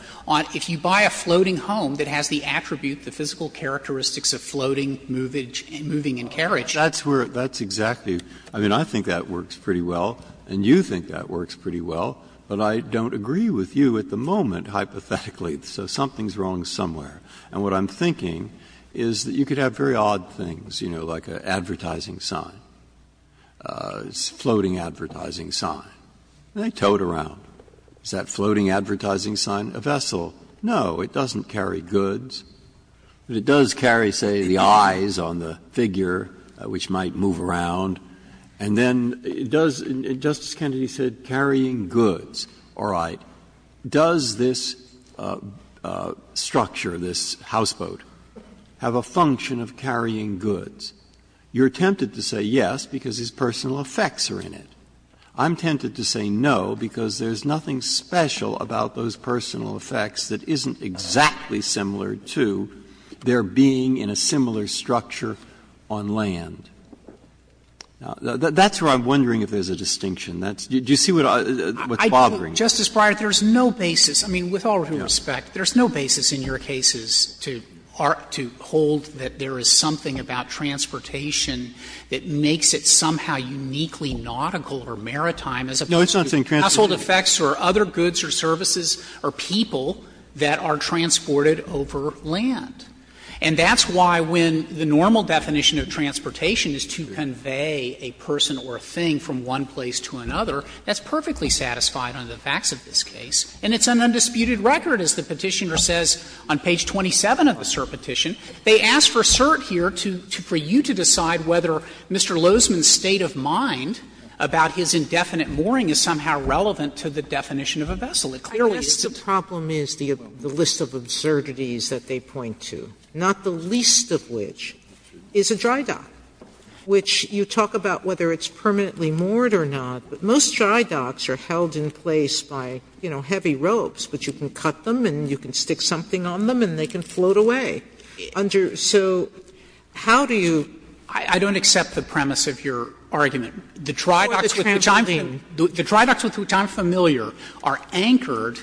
If you buy a floating home that has the attribute, the physical characteristics of floating, moving and carriage. Breyer. That's where that's exactly — I mean, I think that works pretty well, and you think that works pretty well, but I don't agree with you at the moment, hypothetically. So something's wrong somewhere. And what I'm thinking is that you could have very odd things, you know, like an advertising sign, a floating advertising sign. They tow it around. Is that floating advertising sign a vessel? No. It doesn't carry goods. But it does carry, say, the eyes on the figure, which might move around. And then it does, Justice Kennedy said, carrying goods. All right. Does this structure, this houseboat, have a function of carrying goods? You're tempted to say yes, because its personal effects are in it. I'm tempted to say no, because there's nothing special about those personal effects that isn't exactly similar to their being in a similar structure on land. Now, that's where I'm wondering if there's a distinction. That's — do you see what's bothering you? Justice Breyer, there's no basis. I mean, with all due respect, there's no basis in your cases to hold that there is something about transportation that makes it somehow uniquely nautical or maritime as opposed to household effects or other goods or services or people. That's not what I'm trying to get at. I'm trying to get at the fact that there are certain things in a vessel that are transported over land, and that's why when the normal definition of transportation is to convey a person or a thing from one place to another, that's perfectly satisfied on the facts of this case. And it's an undisputed record, as the Petitioner says on page 27 of the CERT Petition. They ask for CERT here to — for you to decide whether Mr. Lozman's state of mind about his indefinite mooring is somehow relevant to the definition of a vessel. Sotomayor, I guess the problem is the list of absurdities that they point to, not the least of which is a dry dock, which you talk about whether it's permanently moored or not. But most dry docks are held in place by, you know, heavy ropes, but you can cut them and you can stick something on them and they can float away. Under — so how do you — Sotomayor, I don't accept the premise of your argument. The dry docks, which I'm familiar, are anchored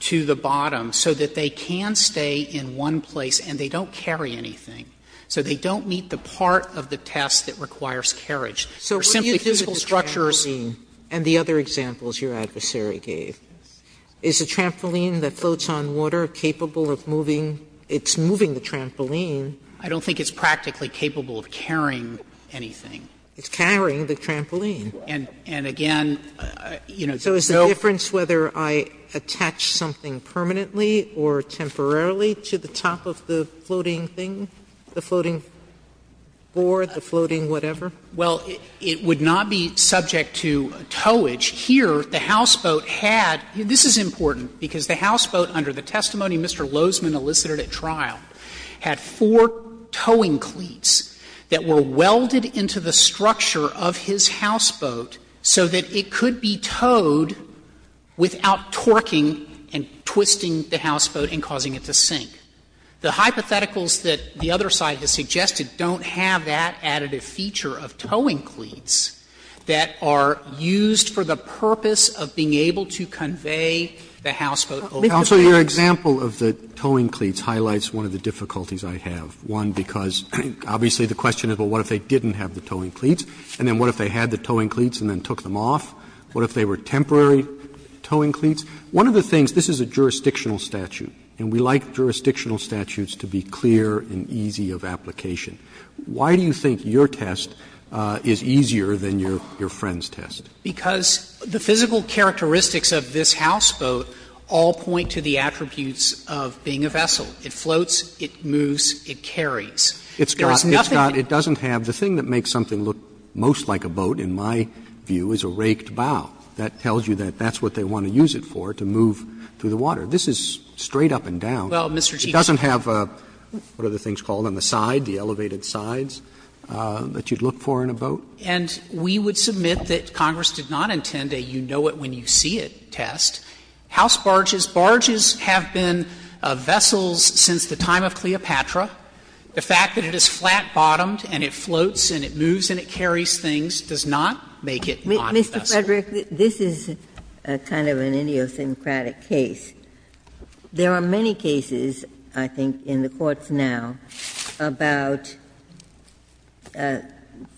to the bottom so that they can stay in one place and they don't carry anything. So they don't meet the part of the test that requires carriage. They're simply physical structures. Sotomayor, so what do you do with the trampoline and the other examples your adversary gave? Is a trampoline that floats on water capable of moving? It's moving the trampoline. I don't think it's practically capable of carrying anything. It's carrying the trampoline. And again, you know, the boat So is the difference whether I attach something permanently or temporarily to the top of the floating thing, the floating board, the floating whatever? Well, it would not be subject to towage. Here, the houseboat had — this is important, because the houseboat, under the testimony Mr. Lozman elicited at trial, had four towing cleats that were welded into the structure of his houseboat so that it could be towed without torquing and twisting the houseboat and causing it to sink. The hypotheticals that the other side has suggested don't have that additive feature of towing cleats that are used for the purpose of being able to convey the houseboat over the dam. Roberts, your example of the towing cleats highlights one of the difficulties I have. One, because obviously the question is, well, what if they didn't have the towing cleats, and then what if they had the towing cleats and then took them off? What if they were temporary towing cleats? One of the things, this is a jurisdictional statute, and we like jurisdictional statutes to be clear and easy of application. Why do you think your test is easier than your friend's test? Because the physical characteristics of this houseboat all point to the attributes of being a vessel. It floats, it moves, it carries. There is nothing that's not. Roberts, it doesn't have the thing that makes something look most like a boat, in my view, is a raked bow. That tells you that that's what they want to use it for, to move through the water. This is straight up and down. It doesn't have what are the things called on the side, the elevated sides that you'd look for in a boat. And we would submit that Congress did not intend a you-know-it-when-you-see-it test. House barges, barges have been vessels since the time of Cleopatra. The fact that it is flat-bottomed and it floats and it moves and it carries things does not make it not a vessel. Ginsburg. Mr. Frederick, this is kind of an idiosyncratic case. There are many cases, I think, in the courts now about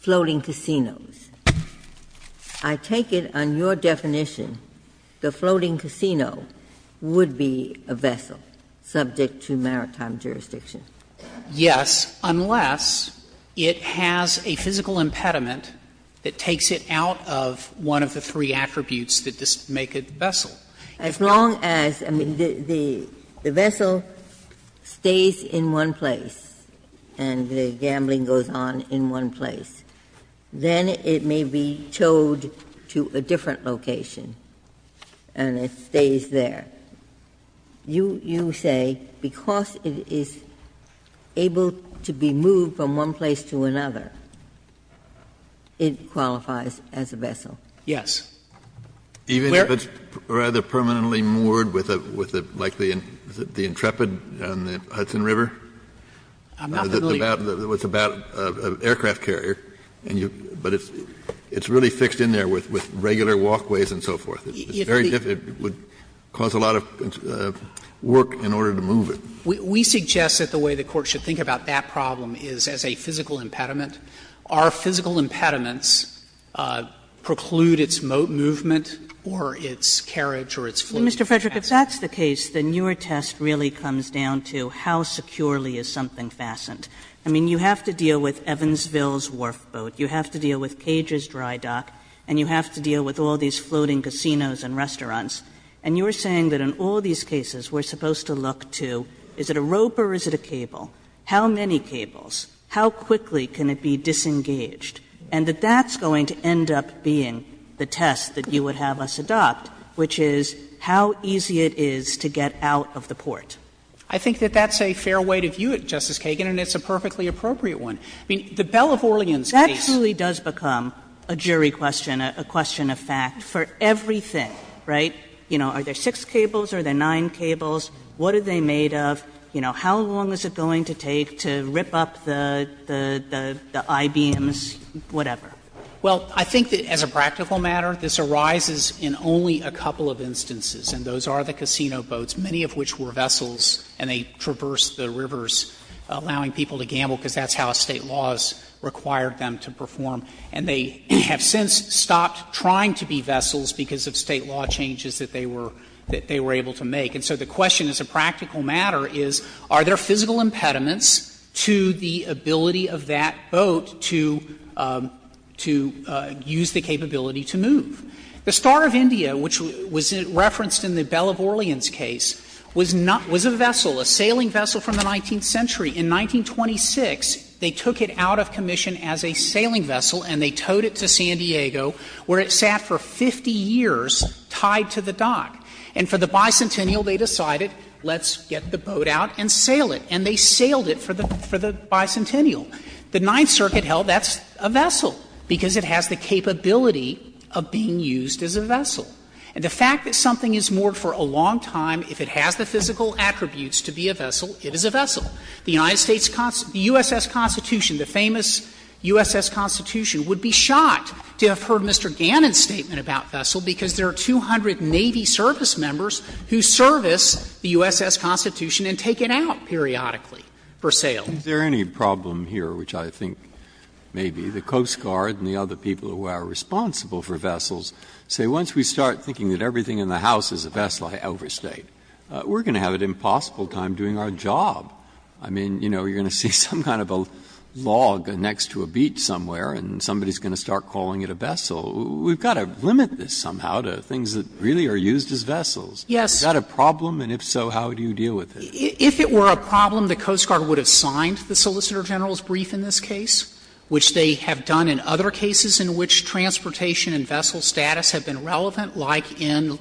floating casinos. I take it on your definition the floating casino would be a vessel subject to maritime Frederick, Jr.: Yes, unless it has a physical impediment that takes it out of one place. Ginsburg. As long as the vessel stays in one place and the gambling goes on in one place, then it may be towed to a different location and it stays there. You say because it is able to be moved from one place to another, it qualifies as a vessel. Yes. Even if it's rather permanently moored with like the Intrepid on the Hudson River? I'm not familiar. It's about an aircraft carrier, but it's really fixed in there with regular walkways and so forth. It's very difficult. It would cause a lot of work in order to move it. We suggest that the way the Court should think about that problem is as a physical impediment. Are physical impediments preclude its moat movement or its carriage or its floating casinos? Kagan. Mr. Frederick, if that's the case, then your test really comes down to how securely is something fastened. I mean, you have to deal with Evansville's wharf boat, you have to deal with Cage's dry dock, and you have to deal with all these floating casinos and restaurants. And you're saying that in all these cases we're supposed to look to is it a rope or is it a cable? How many cables? How quickly can it be disengaged? And that that's going to end up being the test that you would have us adopt, which is how easy it is to get out of the port. I think that that's a fair way to view it, Justice Kagan, and it's a perfectly appropriate one. I mean, the Belle of Orleans case. That truly does become a jury question, a question of fact, for everything, right? You know, are there six cables, are there nine cables, what are they made of, you know, do they strip up the I-beams, whatever? Well, I think that as a practical matter, this arises in only a couple of instances, and those are the casino boats, many of which were vessels, and they traversed the rivers, allowing people to gamble, because that's how State laws required them to perform. And they have since stopped trying to be vessels because of State law changes that they were able to make. And so the question as a practical matter is, are there physical impediments to the ability of that boat to use the capability to move? The Star of India, which was referenced in the Belle of Orleans case, was a vessel, a sailing vessel from the 19th century. In 1926, they took it out of commission as a sailing vessel and they towed it to San Diego, where it sat for 50 years tied to the dock. And for the Bicentennial, they decided, let's get the boat out and sail it, and they sailed it for the Bicentennial. The Ninth Circuit held that's a vessel, because it has the capability of being used as a vessel. And the fact that something is moored for a long time, if it has the physical attributes to be a vessel, it is a vessel. The United States USS Constitution, the famous USS Constitution, would be shocked to have heard Mr. Gannon's statement about vessel, because there are 280 servicemembers who service the USS Constitution and take it out periodically for sale. Breyer, is there any problem here, which I think maybe the Coast Guard and the other people who are responsible for vessels say, once we start thinking that everything in the house is a vessel, I overstate, we're going to have an impossible time doing our job. I mean, you know, you're going to see some kind of a log next to a beach somewhere and somebody is going to start calling it a vessel. We've got to limit this somehow to things that really are used as vessels. Yes. Is that a problem? And if so, how do you deal with it? If it were a problem, the Coast Guard would have signed the Solicitor General's brief in this case, which they have done in other cases in which transportation and vessel status have been relevant, like in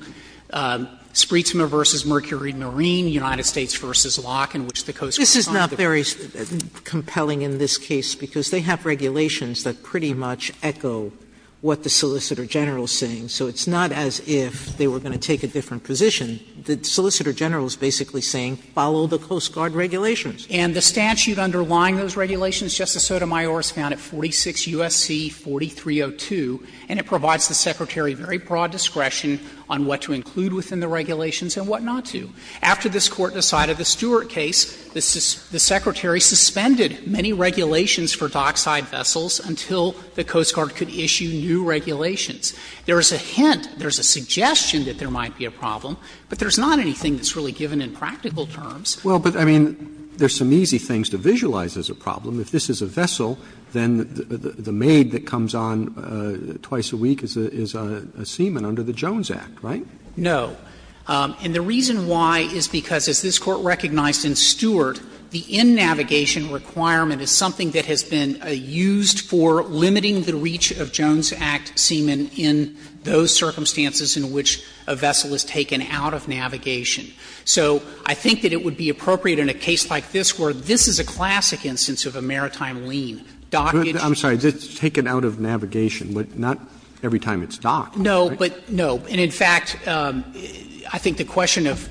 Spreetsma v. Mercury Marine, United States v. Locke, in which the Coast Guard signed the brief. Sotomayor, this is not very compelling in this case, because they have regulations that pretty much echo what the Solicitor General is saying. So it's not as if they were going to take a different position. The Solicitor General is basically saying, follow the Coast Guard regulations. And the statute underlying those regulations, Justice Sotomayor, is found at 46 U.S.C. 4302, and it provides the Secretary very broad discretion on what to include within the regulations and what not to. After this Court decided the Stewart case, the Secretary suspended many regulations for dockside vessels until the Coast Guard could issue new regulations. There is a hint, there is a suggestion that there might be a problem, but there is not anything that's really given in practical terms. Roberts. Well, but, I mean, there are some easy things to visualize as a problem. If this is a vessel, then the maid that comes on twice a week is a seaman under the Jones Act, right? No. And the reason why is because, as this Court recognized in Stewart, the in-navigation requirement is something that has been used for limiting the reach of Jones Act seamen in those circumstances in which a vessel is taken out of navigation. So I think that it would be appropriate in a case like this where this is a classic instance of a maritime lien. Dockage. Roberts. I'm sorry. It's taken out of navigation, but not every time it's docked. No, but no. And, in fact, I think the question of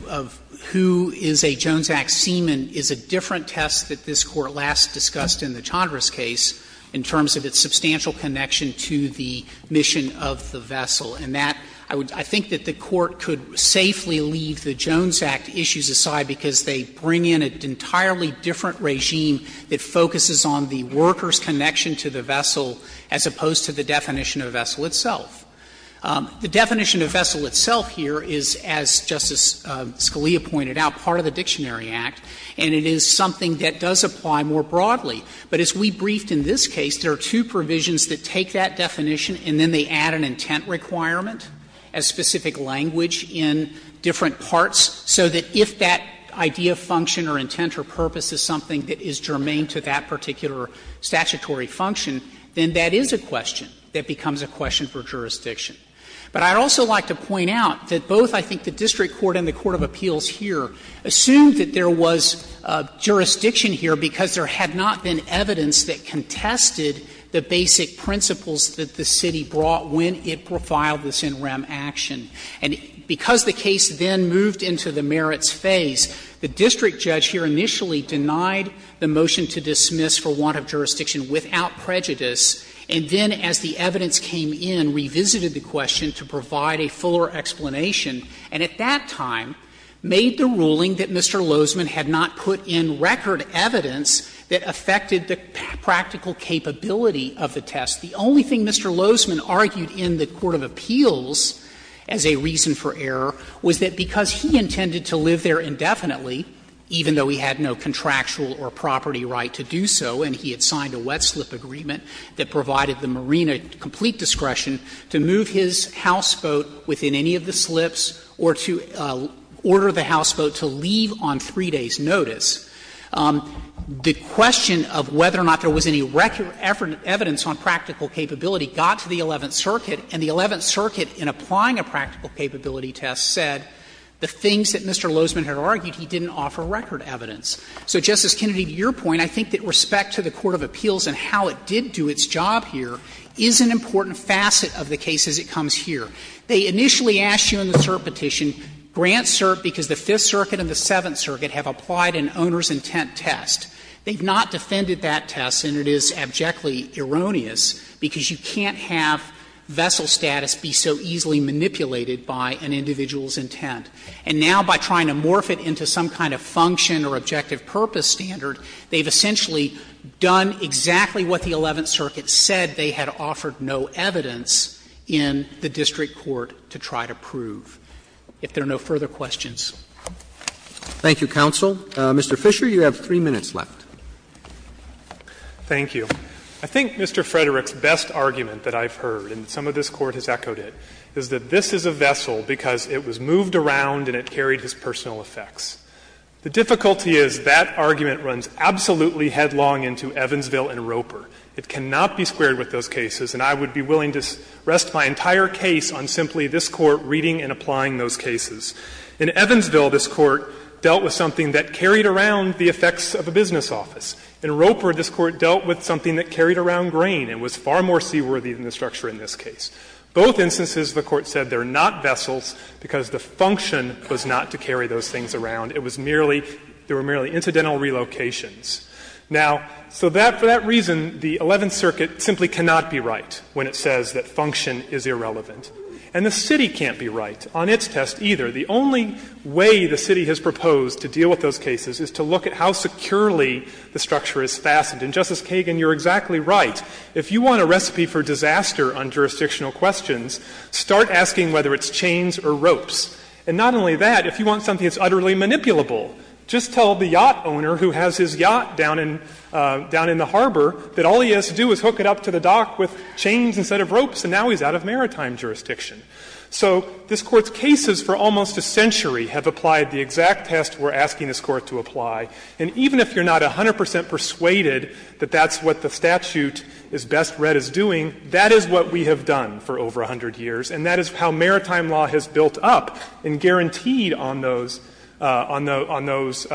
who is a Jones Act seaman is a different test that this Court last discussed in the Chandra's case in terms of its substantial connection to the mission of the vessel. And that, I think that the Court could safely leave the Jones Act issues aside because they bring in an entirely different regime that focuses on the worker's connection to the vessel as opposed to the definition of a vessel itself. The definition of vessel itself here is, as Justice Scalia pointed out, part of the Dictionary Act, and it is something that does apply more broadly. But as we briefed in this case, there are two provisions that take that definition and then they add an intent requirement as specific language in different parts, so that if that idea, function, or intent or purpose is something that is germane to that particular statutory function, then that is a question that becomes a question for jurisdiction. But I'd also like to point out that both, I think, the district court and the court of appeals here assumed that there was jurisdiction here because there had not been evidence that contested the basic principles that the city brought when it profiled this in rem action. And because the case then moved into the merits phase, the district judge here initially denied the motion to dismiss for want of jurisdiction without prejudice, and then as the district court then revisited the question to provide a fuller explanation and at that time made the ruling that Mr. Lozman had not put in record evidence that affected the practical capability of the test. The only thing Mr. Lozman argued in the court of appeals as a reason for error was that because he intended to live there indefinitely, even though he had no contractual or property right to do so, and he had signed a wet slip agreement that provided the marina complete discretion to move his houseboat within any of the slips or to order the houseboat to leave on 3 days' notice, the question of whether or not there was any record evidence on practical capability got to the Eleventh Circuit, and the Eleventh Circuit, in applying a practical capability test, said the things that Mr. Lozman had argued he didn't offer record evidence. So, Justice Kennedy, to your point, I think that respect to the court of appeals and how it did do its job here is an important facet of the case as it comes here. They initially asked you in the CERP petition, grant CERP because the Fifth Circuit and the Seventh Circuit have applied an owner's intent test. They have not defended that test, and it is abjectly erroneous, because you can't have vessel status be so easily manipulated by an individual's intent. And now by trying to morph it into some kind of function or objective purpose standard, they have essentially done exactly what the Eleventh Circuit said they had offered no evidence in the district court to try to prove. If there are no further questions. Roberts. Thank you, counsel. Mr. Fisher, you have 3 minutes left. Fisher. Thank you. I think Mr. Frederick's best argument that I've heard, and some of this Court has echoed it, is that this is a vessel because it was moved around and it carried his personal effects. The difficulty is that argument runs absolutely headlong into Evansville and Roper. It cannot be squared with those cases, and I would be willing to rest my entire case on simply this Court reading and applying those cases. In Evansville, this Court dealt with something that carried around the effects of a business office. In Roper, this Court dealt with something that carried around grain and was far more seaworthy than the structure in this case. Both instances, the Court said they are not vessels because the function was not to move around, it was merely — there were merely incidental relocations. Now, so for that reason, the Eleventh Circuit simply cannot be right when it says that function is irrelevant. And the City can't be right on its test either. The only way the City has proposed to deal with those cases is to look at how securely the structure is fastened. And, Justice Kagan, you're exactly right. If you want a recipe for disaster on jurisdictional questions, start asking whether it's chains or ropes. And not only that, if you want something that's utterly manipulable, just tell the yacht owner who has his yacht down in the harbor that all he has to do is hook it up to the dock with chains instead of ropes, and now he's out of maritime jurisdiction. So this Court's cases for almost a century have applied the exact test we're asking this Court to apply. And even if you're not 100 percent persuaded that that's what the statute is best read as doing, that is what we have done for over 100 years, and that is how maritime law has built up and guaranteed on those — on those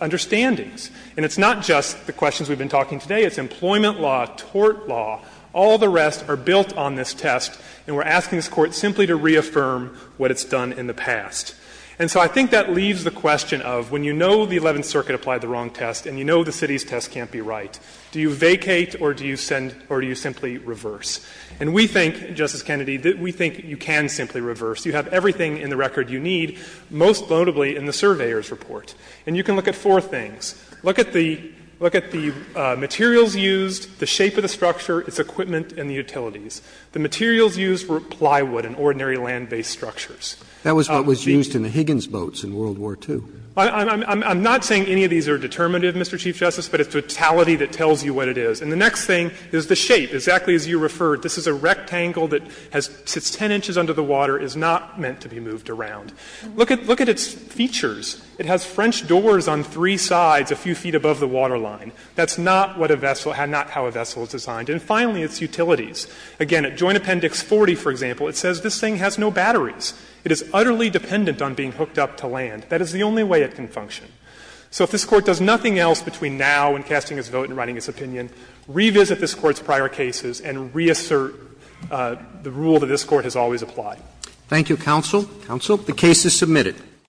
understandings. And it's not just the questions we've been talking today. It's employment law, tort law, all the rest are built on this test, and we're asking this Court simply to reaffirm what it's done in the past. And so I think that leaves the question of, when you know the Eleventh Circuit applied the wrong test and you know the City's test can't be right, do you vacate or do you send — or do you simply reverse? And we think, Justice Kennedy, that we think you can simply reverse. You have everything in the record you need, most notably in the Surveyor's Report. And you can look at four things. Look at the — look at the materials used, the shape of the structure, its equipment and the utilities. The materials used were plywood and ordinary land-based structures. Roberts. That was what was used in the Higgins boats in World War II. I'm not saying any of these are determinative, Mr. Chief Justice, but it's totality that tells you what it is. And the next thing is the shape, exactly as you referred. This is a rectangle that has — sits 10 inches under the water, is not meant to be moved around. Look at — look at its features. It has French doors on three sides a few feet above the water line. That's not what a vessel — not how a vessel is designed. And finally, its utilities. Again, at Joint Appendix 40, for example, it says this thing has no batteries. It is utterly dependent on being hooked up to land. That is the only way it can function. So if this Court does nothing else between now and casting its vote and writing its opinion, revisit this Court's prior cases and reassert the rule that this Court has always applied. Roberts. Thank you, counsel. Counsel. The case is submitted.